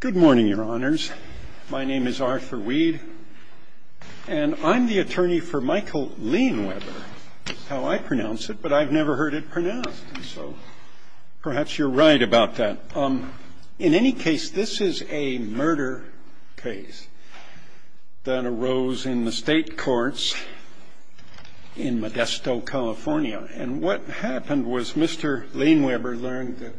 Good morning, your honors. My name is Arthur Weed, and I'm the attorney for Michael Leinweber. That's how I pronounce it, but I've never heard it pronounced, so perhaps you're right about that. In any case, this is a murder case that arose in the state courts in Modesto, California. And what happened was Mr. Leinweber learned that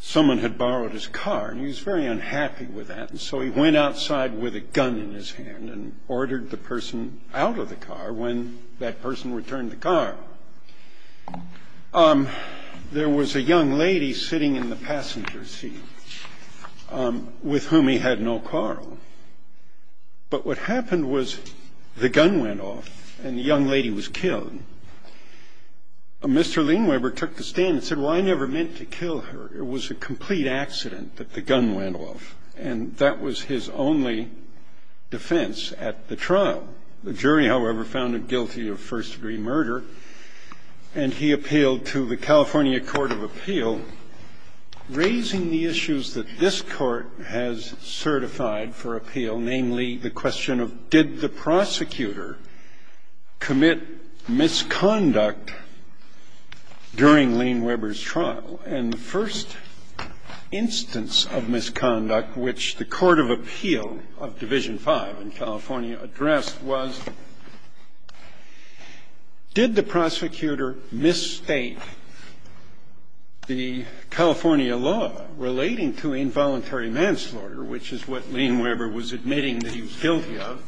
someone had borrowed his car, and he was very unhappy with that. And so he went outside with a gun in his hand and ordered the person out of the car. When that person returned the car, there was a young lady sitting in the passenger seat with whom he had no car on. But what happened was the gun went off and the young lady was killed. Mr. Leinweber took the stand and said, well, I never meant to kill her. It was a complete accident that the gun went off, and that was his only defense at the trial. The jury, however, found him guilty of first-degree murder, and he appealed to the California Court of Appeal, raising the issues that this Court has certified for appeal, namely the question of did the prosecutor commit misconduct during Leinweber's trial. And the first instance of misconduct which the Court of Appeal of Division V in California law relating to involuntary manslaughter, which is what Leinweber was admitting that he was guilty of,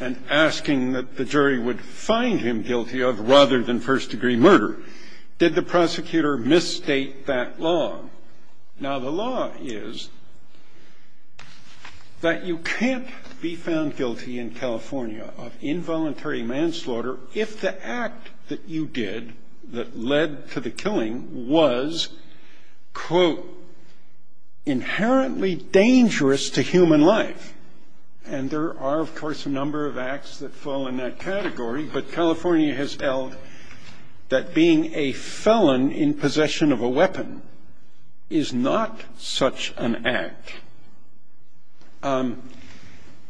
and asking that the jury would find him guilty of rather than first-degree murder. Did the prosecutor misstate that law? Now, the law is that you can't be found guilty in California of involuntary manslaughter if the act that you did that led to the killing was, quote, inherently dangerous to human life. And there are, of course, a number of acts that fall in that category, but California has held that being a felon in possession of a weapon is not such an act.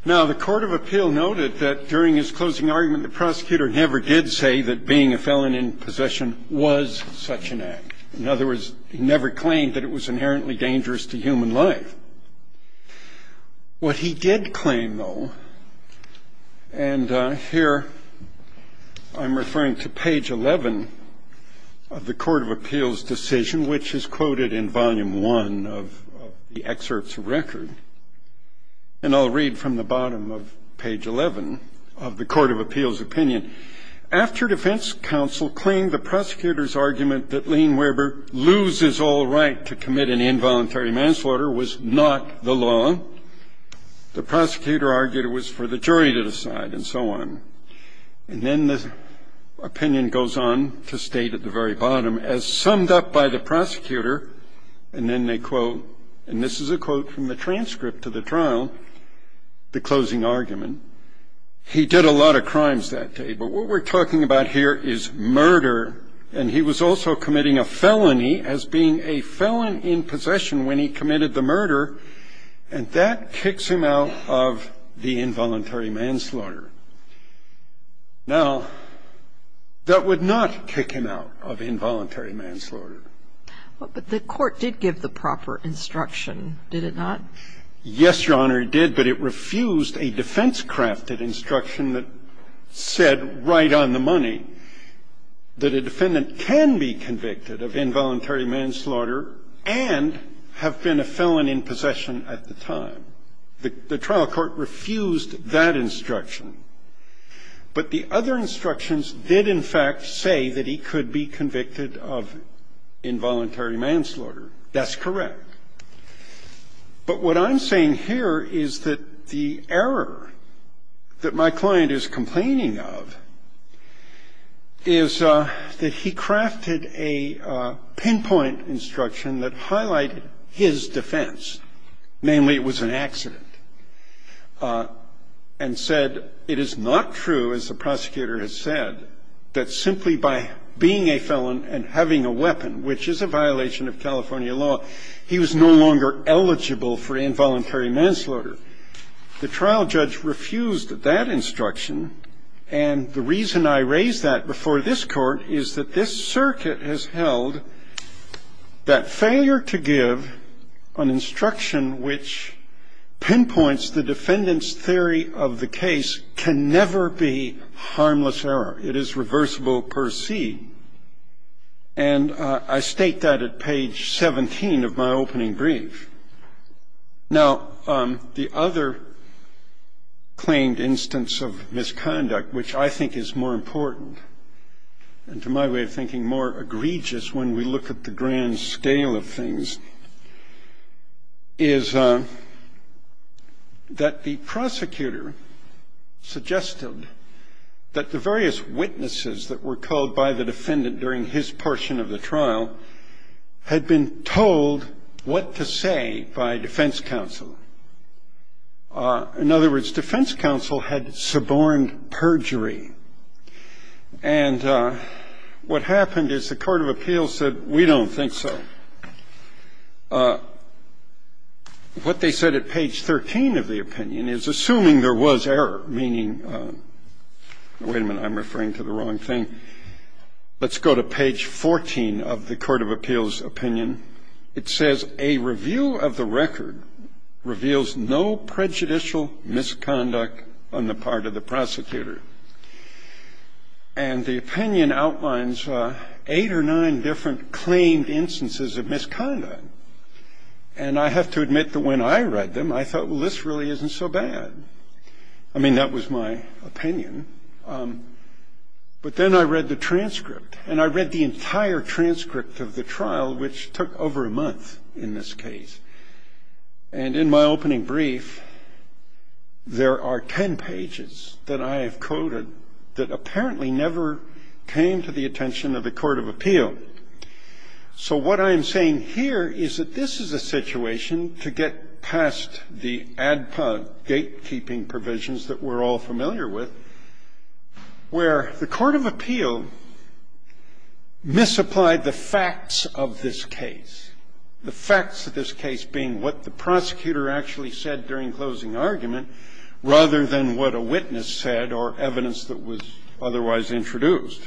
Now, the Court of Appeal noted that during his closing argument, the prosecutor never did say that being a felon in possession was such an act. In other words, he never claimed that it was inherently dangerous to human life. What he did claim, though, and here I'm referring to page 11 of the Court of Appeal's decision, which is quoted in volume one of the excerpt's record, and I'll read from the bottom of page 11 of the Court of Appeal's opinion, after defense counsel claimed the prosecutor's argument that Leinweber loses all right to commit an involuntary manslaughter was not the law, the prosecutor argued it was for the jury to decide, and so on. And then the opinion goes on to state at the very bottom, as summed up by the prosecutor, and then they quote, and this is a quote from the transcript to the trial, the closing argument, he did a lot of crimes that day, but what we're talking about here is murder, and he was also committing a felony as being a felon in possession when he committed the murder, and that kicks him out of the involuntary manslaughter. Now, that would not kick him out of involuntary manslaughter. But the Court did give the proper instruction, did it not? Yes, Your Honor, it did, but it refused a defense-crafted instruction that said right on the money that a defendant can be convicted of involuntary manslaughter and have been a felon in possession at the time. The trial court refused that instruction. But the other instructions did, in fact, say that he could be convicted of involuntary manslaughter. That's correct. But what I'm saying here is that the error that my client is complaining of is that he crafted a pinpoint instruction that highlighted his defense, namely it was an accident, and said it is not true, as the prosecutor has said, that simply by being a felon and having a weapon, which is a violation of California law, he was no longer eligible for involuntary manslaughter. The trial judge refused that instruction. And the reason I raise that before this Court is that this circuit has held that failure to give an instruction which pinpoints the defendant's theory of the case can never be harmless error. It is reversible per se. And I state that at page 17 of my opening brief. Now, the other claimed instance of misconduct, which I think is more important and, to my way of thinking, more egregious when we look at the grand scale of things, is that the prosecutor suggested that the various witnesses that were called by the defendant during his portion of the trial had been told what to say by defense counsel. In other words, defense counsel had suborned perjury. And what happened is the court of appeals said, we don't think so. What they said at page 13 of the opinion is, assuming there was error, meaning, wait a minute, I'm referring to the wrong thing. Let's go to page 14 of the court of appeals opinion. It says, a review of the record reveals no prejudicial misconduct on the part of the prosecutor. And the opinion outlines eight or nine different claimed instances of misconduct. And I have to admit that when I read them, I thought, well, this really isn't so bad. I mean, that was my opinion. But then I read the transcript, and I read the entire transcript of the trial, which took over a month in this case. And in my opening brief, there are ten pages that I have coded that apparently never came to the attention of the court of appeal. So what I am saying here is that this is a situation to get past the ADPA gatekeeping provisions that we're all familiar with, where the court of appeal misapplied the facts of this case, the facts of this case being what the prosecutor actually said during closing argument, rather than what a witness said or evidence that was otherwise introduced.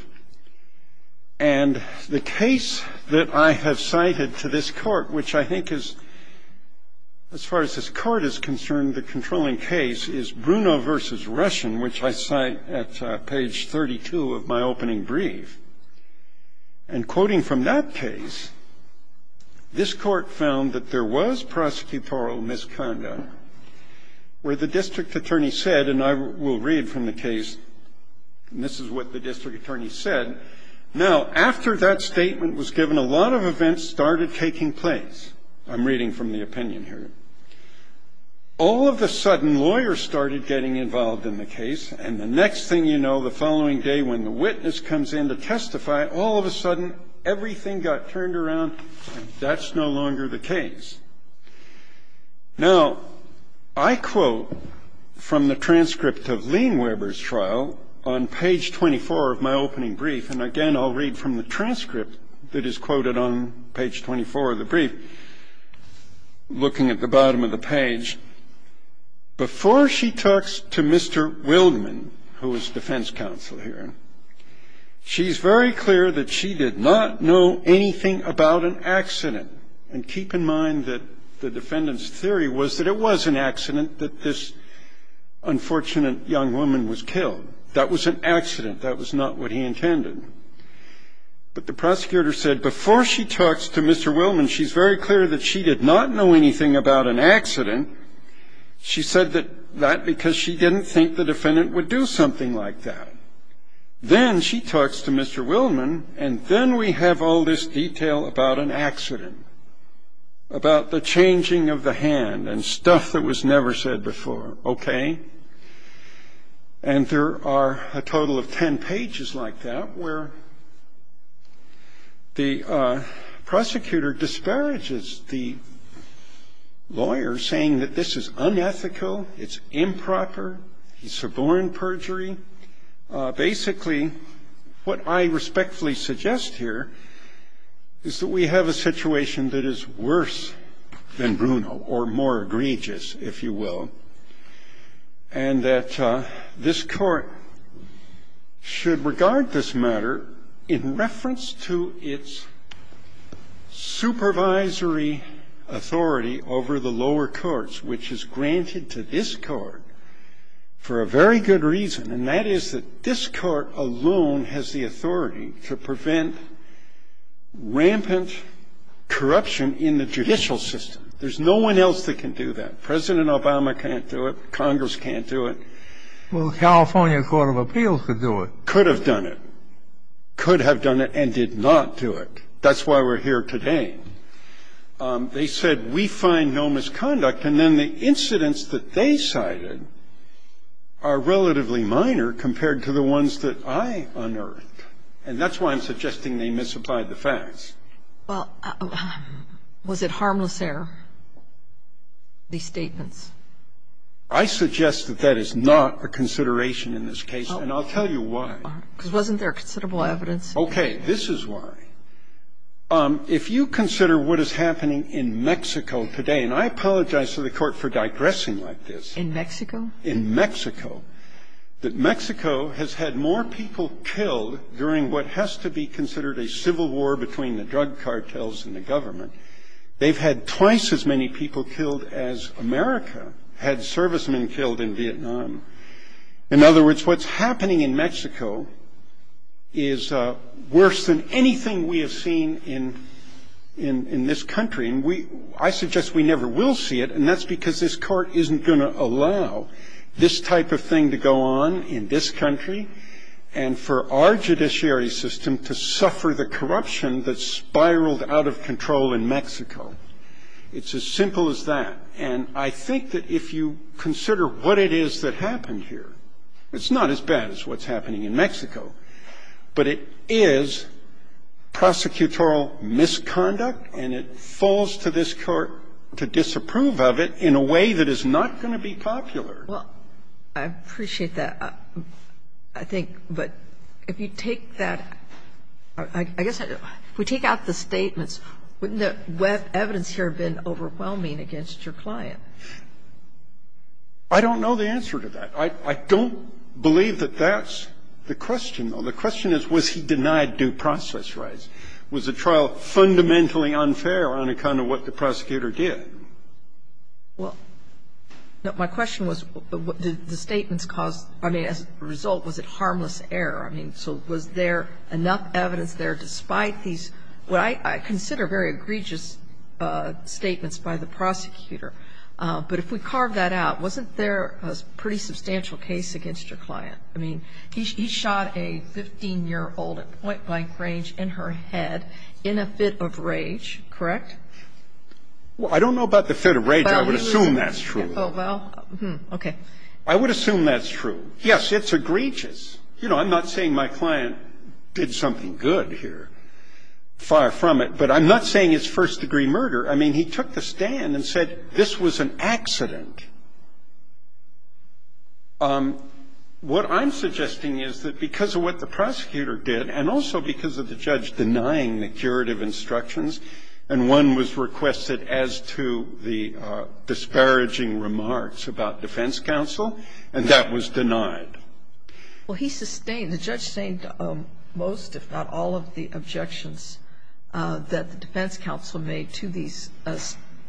And the case that I have cited to this court, which I think is, as far as this court is concerned, the controlling case, is Bruno v. Russian, which I cite at page 32 of my opening brief. And quoting from that case, this court found that there was prosecutorial misconduct, where the district attorney said, and I will read from the case, and this is what the district attorney said. Now, after that statement was given, a lot of events started taking place. I'm reading from the opinion here. All of a sudden, lawyers started getting involved in the case, and the next thing you know, the following day when the witness comes in to testify, all of a sudden, everything got turned around, and that's no longer the case. Now, I quote from the transcript of Lean Weber's trial on page 24 of my opening brief, and again, I'll read from the transcript that is quoted on page 24 of the brief, looking at the bottom of the page. Before she talks to Mr. Wildman, who was defense counsel here, she's very clear that she did not know anything about an accident. And keep in mind that the defendant's theory was that it was an accident that this unfortunate young woman was killed. That was an accident. That was not what he intended. But the prosecutor said, before she talks to Mr. Wildman, she's very clear that she did not know anything about an accident. She said that because she didn't think the defendant would do something like that. Then she talks to Mr. Wildman, and then we have all this detail about an accident, about the changing of the hand, and stuff that was never said before. Okay? And there are a total of ten pages like that, where the prosecutor disparages the lawyer saying that this is unethical, it's improper, he's suborn perjury. Basically, what I respectfully suggest here is that we have a situation that is worse than Bruno, or more egregious, if you will, and that this Court should regard this matter in reference to its supervisory authority over the lower courts, which is granted to this Court for a very good reason. And that is that this Court alone has the authority to prevent rampant corruption in the judicial system. There's no one else that can do that. President Obama can't do it. Congress can't do it. Well, the California Court of Appeals could do it. Could have done it. Could have done it and did not do it. That's why we're here today. They said we find no misconduct, and then the incidents that they cited are relatively minor compared to the ones that I unearthed. And that's why I'm suggesting they misapplied the facts. Well, was it harmless error, these statements? I suggest that that is not a consideration in this case, and I'll tell you why. Because wasn't there considerable evidence? Okay. This is why. If you consider what is happening in Mexico today, and I apologize to the Court for digressing like this. In Mexico? In Mexico. That Mexico has had more people killed during what has to be considered a civil war between the drug cartels and the government. They've had twice as many people killed as America had servicemen killed in Vietnam. In other words, what's happening in Mexico is worse than anything we have seen in this country. And I suggest we never will see it, and that's because this Court isn't going to allow this type of thing to go on in this country and for our judiciary system to suffer the corruption that's spiraled out of control in Mexico. It's as simple as that. And I think that if you consider what it is that happened here, it's not as bad as what's happening in Mexico, but it is prosecutorial misconduct, and it falls to this Court to disapprove of it in a way that is not going to be popular. Well, I appreciate that, I think. But if you take that – I guess if we take out the statements, wouldn't the evidence here have been overwhelming against your client? I don't know the answer to that. I don't believe that that's the question, though. The question is, was he denied due process rights? Was the trial fundamentally unfair on account of what the prosecutor did? Well, no. My question was, did the statements cause – I mean, as a result, was it harmless error? I mean, so was there enough evidence there despite these what I consider very egregious statements by the prosecutor? But if we carve that out, wasn't there a pretty substantial case against your client? I mean, he shot a 15-year-old at point-blank range in her head in a fit of rage, correct? Well, I don't know about the fit of rage. I would assume that's true. Oh, well. Okay. I would assume that's true. Yes, it's egregious. You know, I'm not saying my client did something good here, far from it. But I'm not saying it's first-degree murder. I mean, he took the stand and said this was an accident. What I'm suggesting is that because of what the prosecutor did, and also because of the judge denying the curative instructions, and one was requested as to the disparaging remarks about defense counsel, and that was denied. Well, he sustained – the judge sustained most, if not all, of the objections that the defense counsel made to these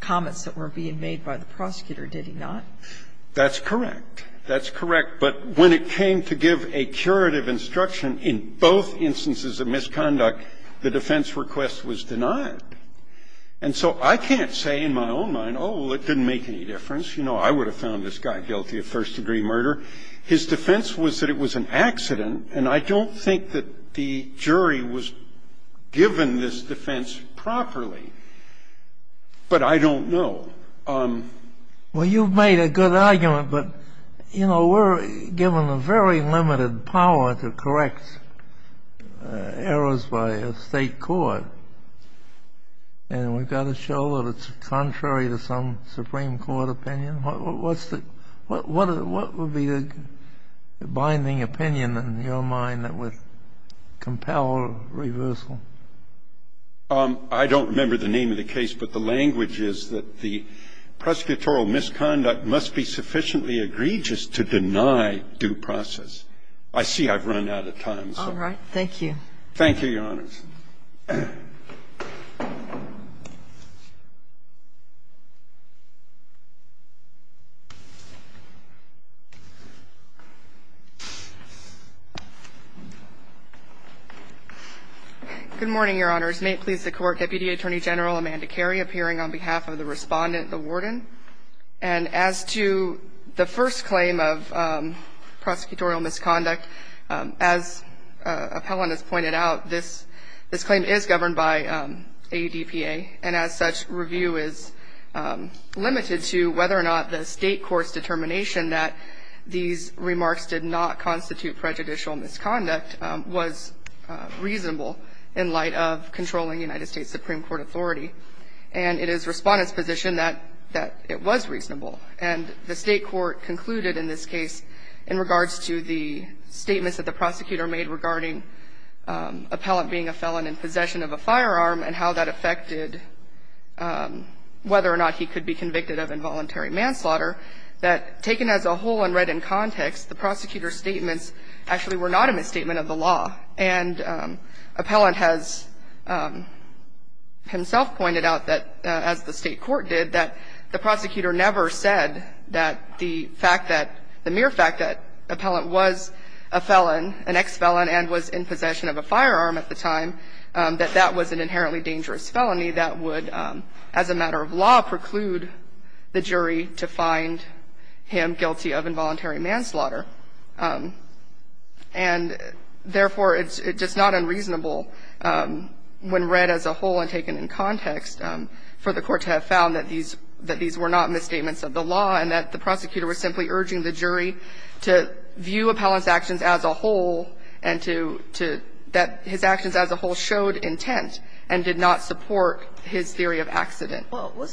comments that were being made by the prosecutor, did he not? That's correct. That's correct. But when it came to give a curative instruction in both instances of misconduct, the defense request was denied. And so I can't say in my own mind, oh, well, it didn't make any difference. You know, I would have found this guy guilty of first-degree murder. His defense was that it was an accident, and I don't think that the jury was given this defense properly. But I don't know. Well, you've made a good argument. But, you know, we're given a very limited power to correct errors by a State court, and we've got to show that it's contrary to some Supreme Court opinion. What's the – what would be the binding opinion in your mind that would compel reversal? I don't remember the name of the case, but the language is that the prosecutorial misconduct must be sufficiently egregious to deny due process. I see I've run out of time. All right. Thank you. Thank you, Your Honors. Good morning, Your Honors. May it please the Court, Deputy Attorney General Amanda Carey appearing on behalf of the Respondent, the Warden. And as to the first claim of prosecutorial misconduct, as Appellant has pointed out, this claim is governed by ADPA, and as such, review is limited to whether or not the State court's determination that these remarks did not constitute prejudicial misconduct was reasonable in light of controlling United States Supreme Court authority. And it is Respondent's position that it was reasonable. And the State court concluded in this case in regards to the statements that the prosecutor made about Appellant in possession of a firearm and how that affected whether or not he could be convicted of involuntary manslaughter, that taken as a whole and read in context, the prosecutor's statements actually were not a misstatement of the law. And Appellant has himself pointed out that, as the State court did, that the prosecutor never said that the fact that the mere fact that Appellant was a felon, an ex-felon and was in possession of a firearm at the time, that that was an inherently dangerous felony that would, as a matter of law, preclude the jury to find him guilty of involuntary manslaughter. And therefore, it's just not unreasonable when read as a whole and taken in context for the court to have found that these were not misstatements of the law and that the prosecutor was simply urging the jury to view Appellant's actions as a whole and to that his actions as a whole showed intent and did not support his theory of accident. Kagan. Well,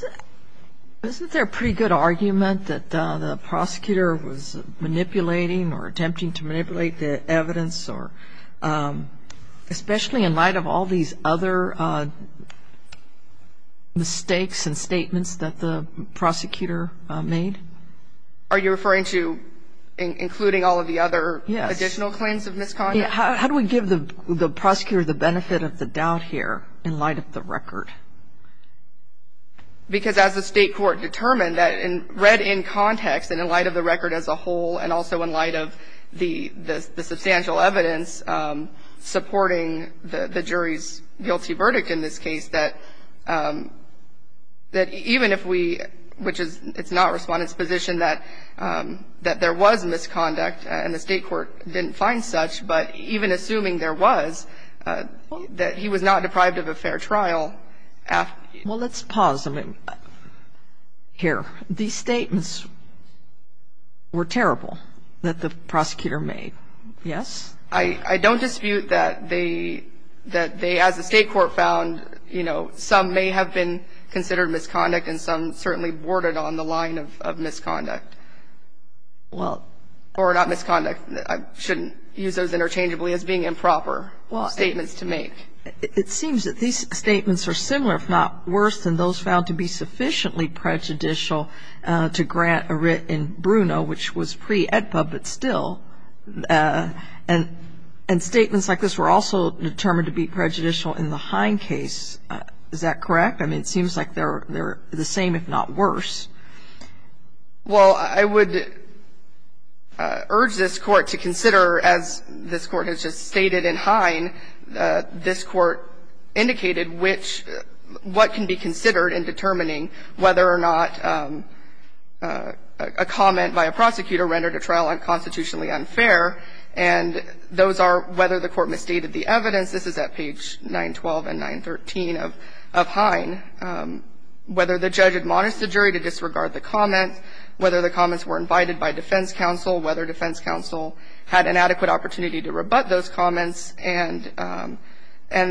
wasn't there a pretty good argument that the prosecutor was manipulating or attempting to manipulate the evidence or, especially in light of all these other mistakes and statements that the prosecutor made? Are you referring to including all of the other additional claims of misconduct? Yes. How do we give the prosecutor the benefit of the doubt here in light of the record? Because as the State court determined that read in context and in light of the record as a whole and also in light of the substantial evidence supporting the jury's guilty verdict in this case, that even if we, which it's not Respondent's position that there was misconduct and the State court didn't find such, but even assuming there was, that he was not deprived of a fair trial after he was convicted of the crime. Here. These statements were terrible that the prosecutor made. Yes? I don't dispute that they, as the State court found, you know, some may have been considered misconduct and some certainly boarded on the line of misconduct. Well. Or not misconduct. I shouldn't use those interchangeably as being improper statements to make. It seems that these statements are similar, if not worse, than those found to be sufficiently prejudicial to grant a writ in Bruno, which was pre-AEDPA, but still. And statements like this were also determined to be prejudicial in the Hine case. Is that correct? I mean, it seems like they're the same, if not worse. Well, I would urge this court to consider, as this court has just stated in Hine, this court indicated which what can be considered in determining whether or not a comment by a prosecutor rendered a trial unconstitutionally unfair. And those are whether the court misstated the evidence. This is at page 912 and 913 of Hine. Whether the judge admonished the jury to disregard the comment, whether the comments were invited by defense counsel, whether defense counsel had an adequate opportunity to rebut those comments, and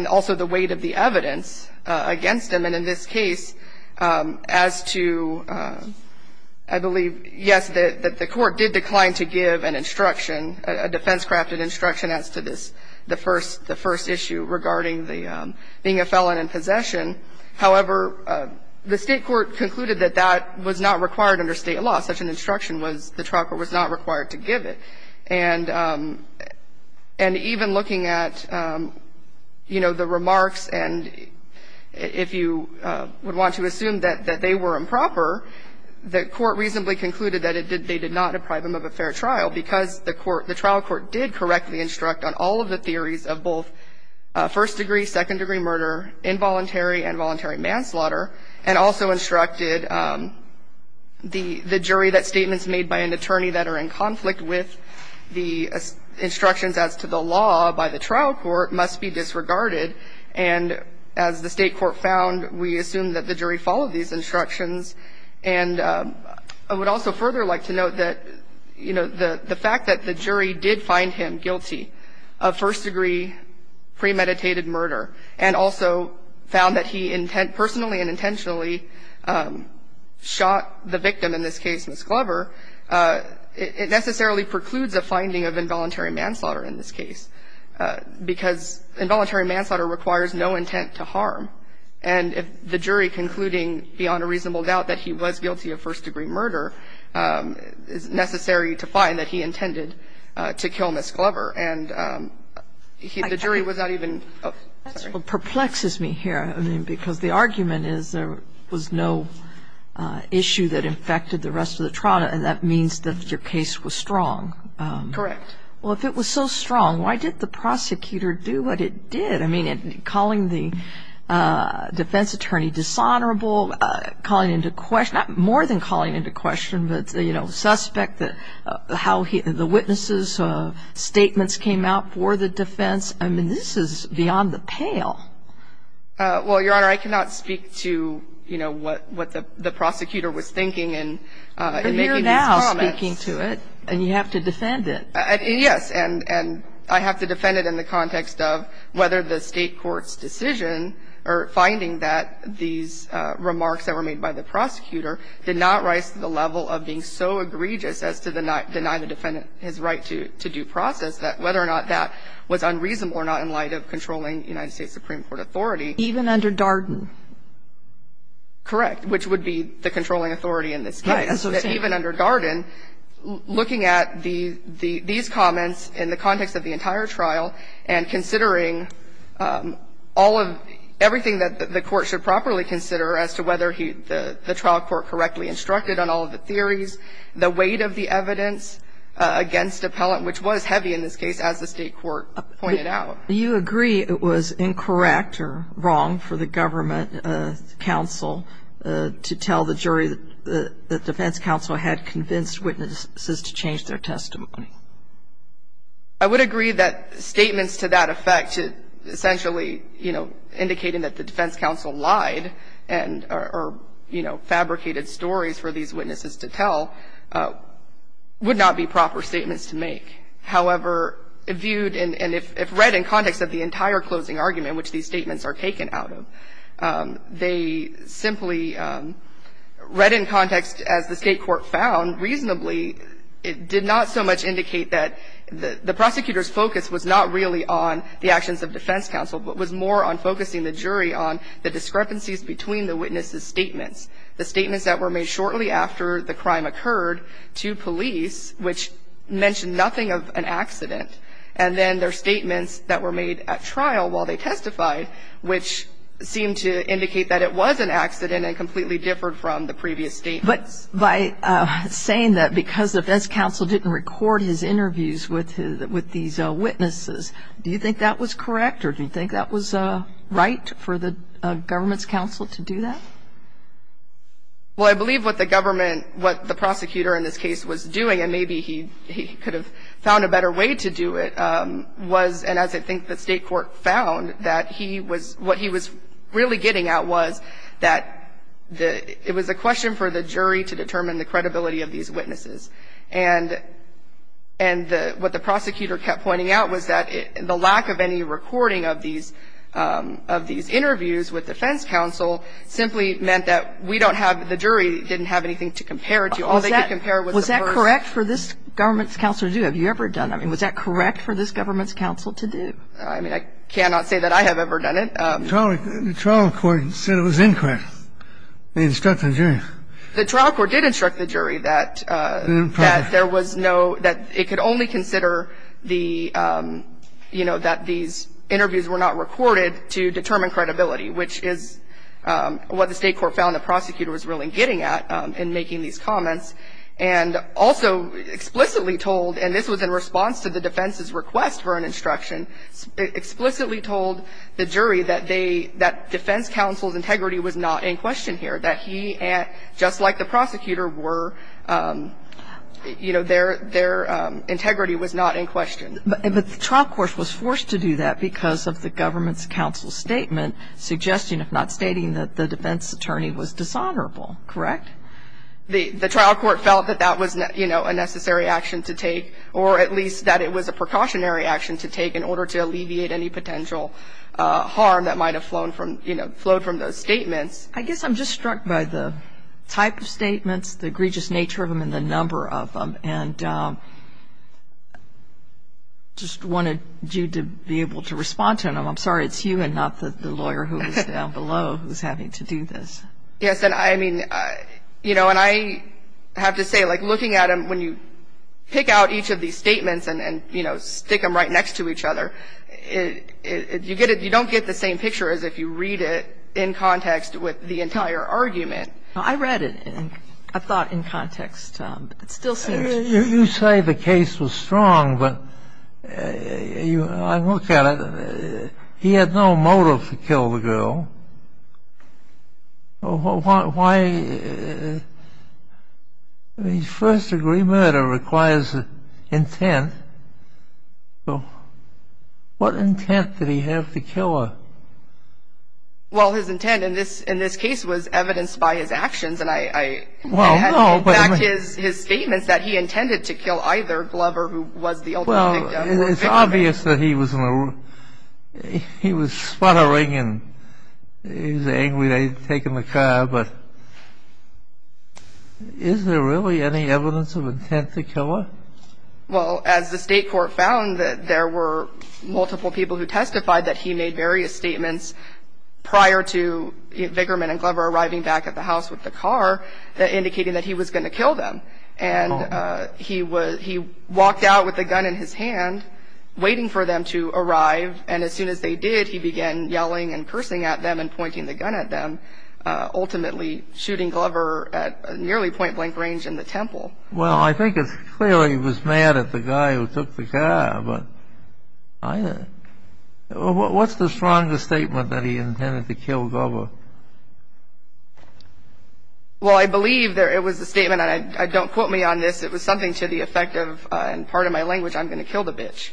also the weight of the evidence against them. And in this case, as to, I believe, yes, that the court did decline to give an instruction, a defense-crafted instruction as to this, the first issue regarding the being a felon in possession. However, the State court concluded that that was not required under State law. Such an instruction was, the trial court was not required to give it. And even looking at, you know, the remarks, and if you would want to assume that they were improper, the court reasonably concluded that it did not deprive them of a fair trial because the trial court did correctly instruct on all of the theories of both first-degree, second-degree murder, involuntary and voluntary manslaughter, and also instructed the jury that statements made by an attorney that are in conflict with the instructions as to the law by the trial court must be disregarded. And as the State court found, we assume that the jury followed these instructions. And I would also further like to note that, you know, the fact that the jury did find him guilty of first-degree premeditated murder and also found that he personally and intentionally shot the victim, in this case, Ms. Glover, it necessarily precludes a finding of involuntary manslaughter in this case because involuntary manslaughter requires no intent to harm. And if the jury, concluding beyond a reasonable doubt that he was guilty of first-degree murder, it's necessary to find that he intended to kill Ms. Glover. And the jury was not even ---- Kagan. That's what perplexes me here, I mean, because the argument is there was no issue that infected the rest of the trial, and that means that your case was strong. Correct. Well, if it was so strong, why did the prosecutor do what it did? I mean, calling the defense attorney dishonorable, calling into question, not more than calling into question, but, you know, suspect how the witnesses' statements came out for the defense. I mean, this is beyond the pale. Well, Your Honor, I cannot speak to, you know, what the prosecutor was thinking in making these comments. But you're now speaking to it, and you have to defend it. Yes. And I have to defend it in the context of whether the State court's decision or finding that these remarks that were made by the prosecutor did not rise to the level of being so egregious as to deny the defendant his right to due process, that whether or not that was unreasonable or not in light of controlling United States Supreme Court authority. Even under Darden? Correct. Which would be the controlling authority in this case. Even under Darden, looking at these comments in the context of the entire trial and considering all of everything that the court should properly consider as to whether the trial court correctly instructed on all of the theories, the weight of the evidence against appellant, which was heavy in this case, as the State court pointed out. Do you agree it was incorrect or wrong for the government counsel to tell the jury that the defense counsel had convinced witnesses to change their testimony? I would agree that statements to that effect, essentially, you know, indicating that the defense counsel lied or, you know, fabricated stories for these witnesses to tell, would not be proper statements to make. However, viewed and if read in context of the entire closing argument, which these statements are taken out of, they simply read in context, as the State court found reasonably, it did not so much indicate that the prosecutor's focus was not really on the actions of defense counsel, but was more on focusing the jury on the discrepancies between the witnesses' statements. The statements that were made shortly after the crime occurred to police, which mentioned nothing of an accident, and then their statements that were made at trial while they testified, which seemed to indicate that it was an accident and completely differed from the previous statements. But by saying that because the defense counsel didn't record his interviews with these witnesses, do you think that was correct or do you think that was right for the government's counsel to do that? Well, I believe what the government, what the prosecutor in this case was doing, and maybe he could have found a better way to do it, was, and as I think the State court found, that he was, what he was really getting at was that it was a question for the jury to determine the credibility of these witnesses. And what the prosecutor kept pointing out was that the lack of any recording of these interviews with defense counsel simply meant that we don't have, the jury didn't have anything to compare to. All they could compare was the first. Was that correct for this government's counsel to do? Have you ever done that? I mean, was that correct for this government's counsel to do? I mean, I cannot say that I have ever done it. The trial court said it was incorrect. They instructed the jury. The trial court did instruct the jury that there was no, that it could only consider the, you know, that these interviews were not recorded to determine credibility, which is what the State court found the prosecutor was really getting at in making these comments and also explicitly told, and this was in response to the defense's request for an instruction, explicitly told the jury that defense counsel's integrity was not in question here, that he, just like the prosecutor, were, you know, their integrity was not in question. But the trial court was forced to do that because of the government's counsel's statement suggesting, if not stating, that the defense attorney was dishonorable. Correct? The trial court felt that that was, you know, a necessary action to take or at least that it was a precautionary action to take in order to alleviate any potential harm that might have flown from, you know, flowed from those statements. I guess I'm just struck by the type of statements, the egregious nature of them and the number of them, and just wanted you to be able to respond to them. I'm sorry it's you and not the lawyer who is down below who is having to do this. Yes, and I mean, you know, and I have to say, like, looking at them when you pick out each of these statements and, you know, stick them right next to each other, you get it, I read it. I thought in context, but it still seems. You say the case was strong, but I look at it. He had no motive to kill the girl. Why? I mean, first-degree murder requires intent. So what intent did he have to kill her? Well, his intent in this case was evidenced by his actions, and I had to back his statements that he intended to kill either Glover, who was the ultimate victim. Well, it's obvious that he was sputtering and he was angry they had taken the car, but is there really any evidence of intent to kill her? Well, as the State Court found, there were multiple people who testified that he made various statements prior to Vickerman and Glover arriving back at the house with the car indicating that he was going to kill them, and he walked out with a gun in his hand waiting for them to arrive, and as soon as they did, he began yelling and cursing at them and pointing the gun at them, ultimately shooting Glover at nearly point-blank range in the temple. Well, I think it's clear he was mad at the guy who took the car, but either. What's the strongest statement that he intended to kill Glover? Well, I believe it was the statement, and don't quote me on this, it was something to the effect of, in part of my language, I'm going to kill the bitch.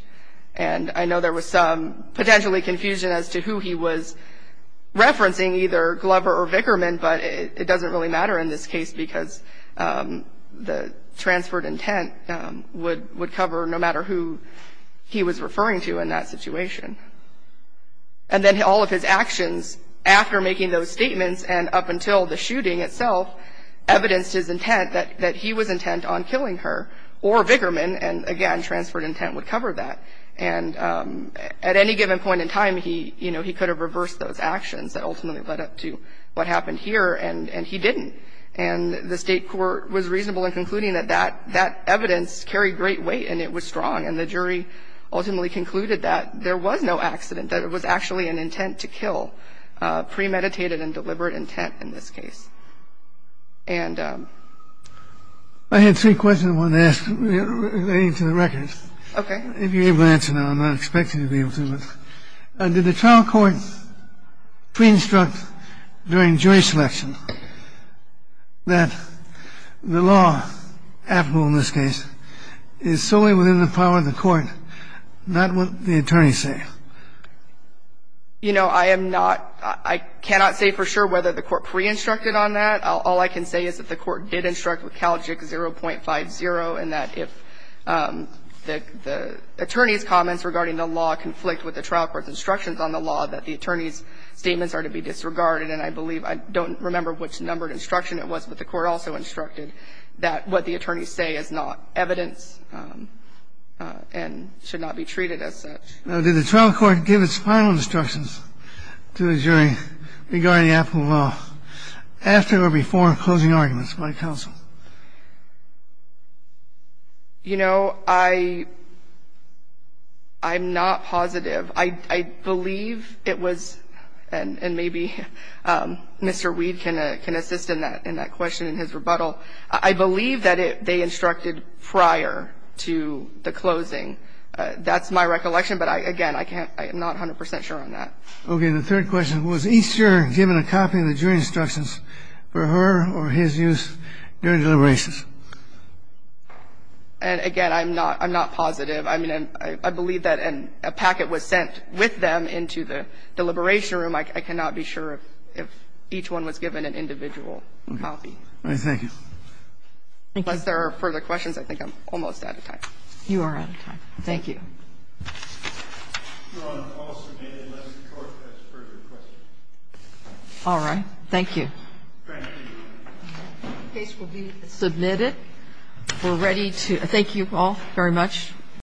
And I know there was some potentially confusion as to who he was referencing, either Glover or Vickerman, but it doesn't really matter in this case because the transferred intent would cover no matter who he was referring to in that situation. And then all of his actions after making those statements and up until the shooting itself evidenced his intent that he was intent on killing her or Vickerman, and again, transferred intent would cover that. And at any given point in time, he could have reversed those actions that ultimately led up to what happened here, and he didn't. And the State court was reasonable in concluding that that evidence carried great weight and it was strong, and the jury ultimately concluded that there was no accident, that it was actually an intent to kill, premeditated and deliberate intent in this case. And ---- I had three questions I wanted to ask relating to the records. Okay. If you're able to answer them, I'm not expecting you to be able to. The first question is, did the trial court pre-instruct during jury selection that the law applicable in this case is solely within the power of the court, not what the attorneys say? You know, I am not ---- I cannot say for sure whether the court pre-instructed on that. All I can say is that the court did instruct with CALJIC 0.50 in that if the attorney's comments regarding the law conflict with the trial court's instructions on the law, that the attorney's statements are to be disregarded. And I believe ---- I don't remember which numbered instruction it was, but the court also instructed that what the attorneys say is not evidence and should not be treated as such. Now, did the trial court give its final instructions to the jury regarding the applicable law after or before closing arguments by counsel? You know, I'm not positive. I believe it was ---- and maybe Mr. Weed can assist in that question in his rebuttal. I believe that they instructed prior to the closing. That's my recollection, but, again, I can't ---- I'm not 100 percent sure on that. Okay. And the third question, was Easter given a copy of the jury instructions for her or his use during deliberations? And, again, I'm not ---- I'm not positive. I mean, I believe that a packet was sent with them into the deliberation room. I cannot be sure if each one was given an individual copy. Okay. Thank you. Thank you. Unless there are further questions, I think I'm almost out of time. You are out of time. Thank you. Your Honor, I'll submit it unless the Court has further questions. All right. Thank you. Thank you. The case will be submitted. We're ready to ---- thank you all very much.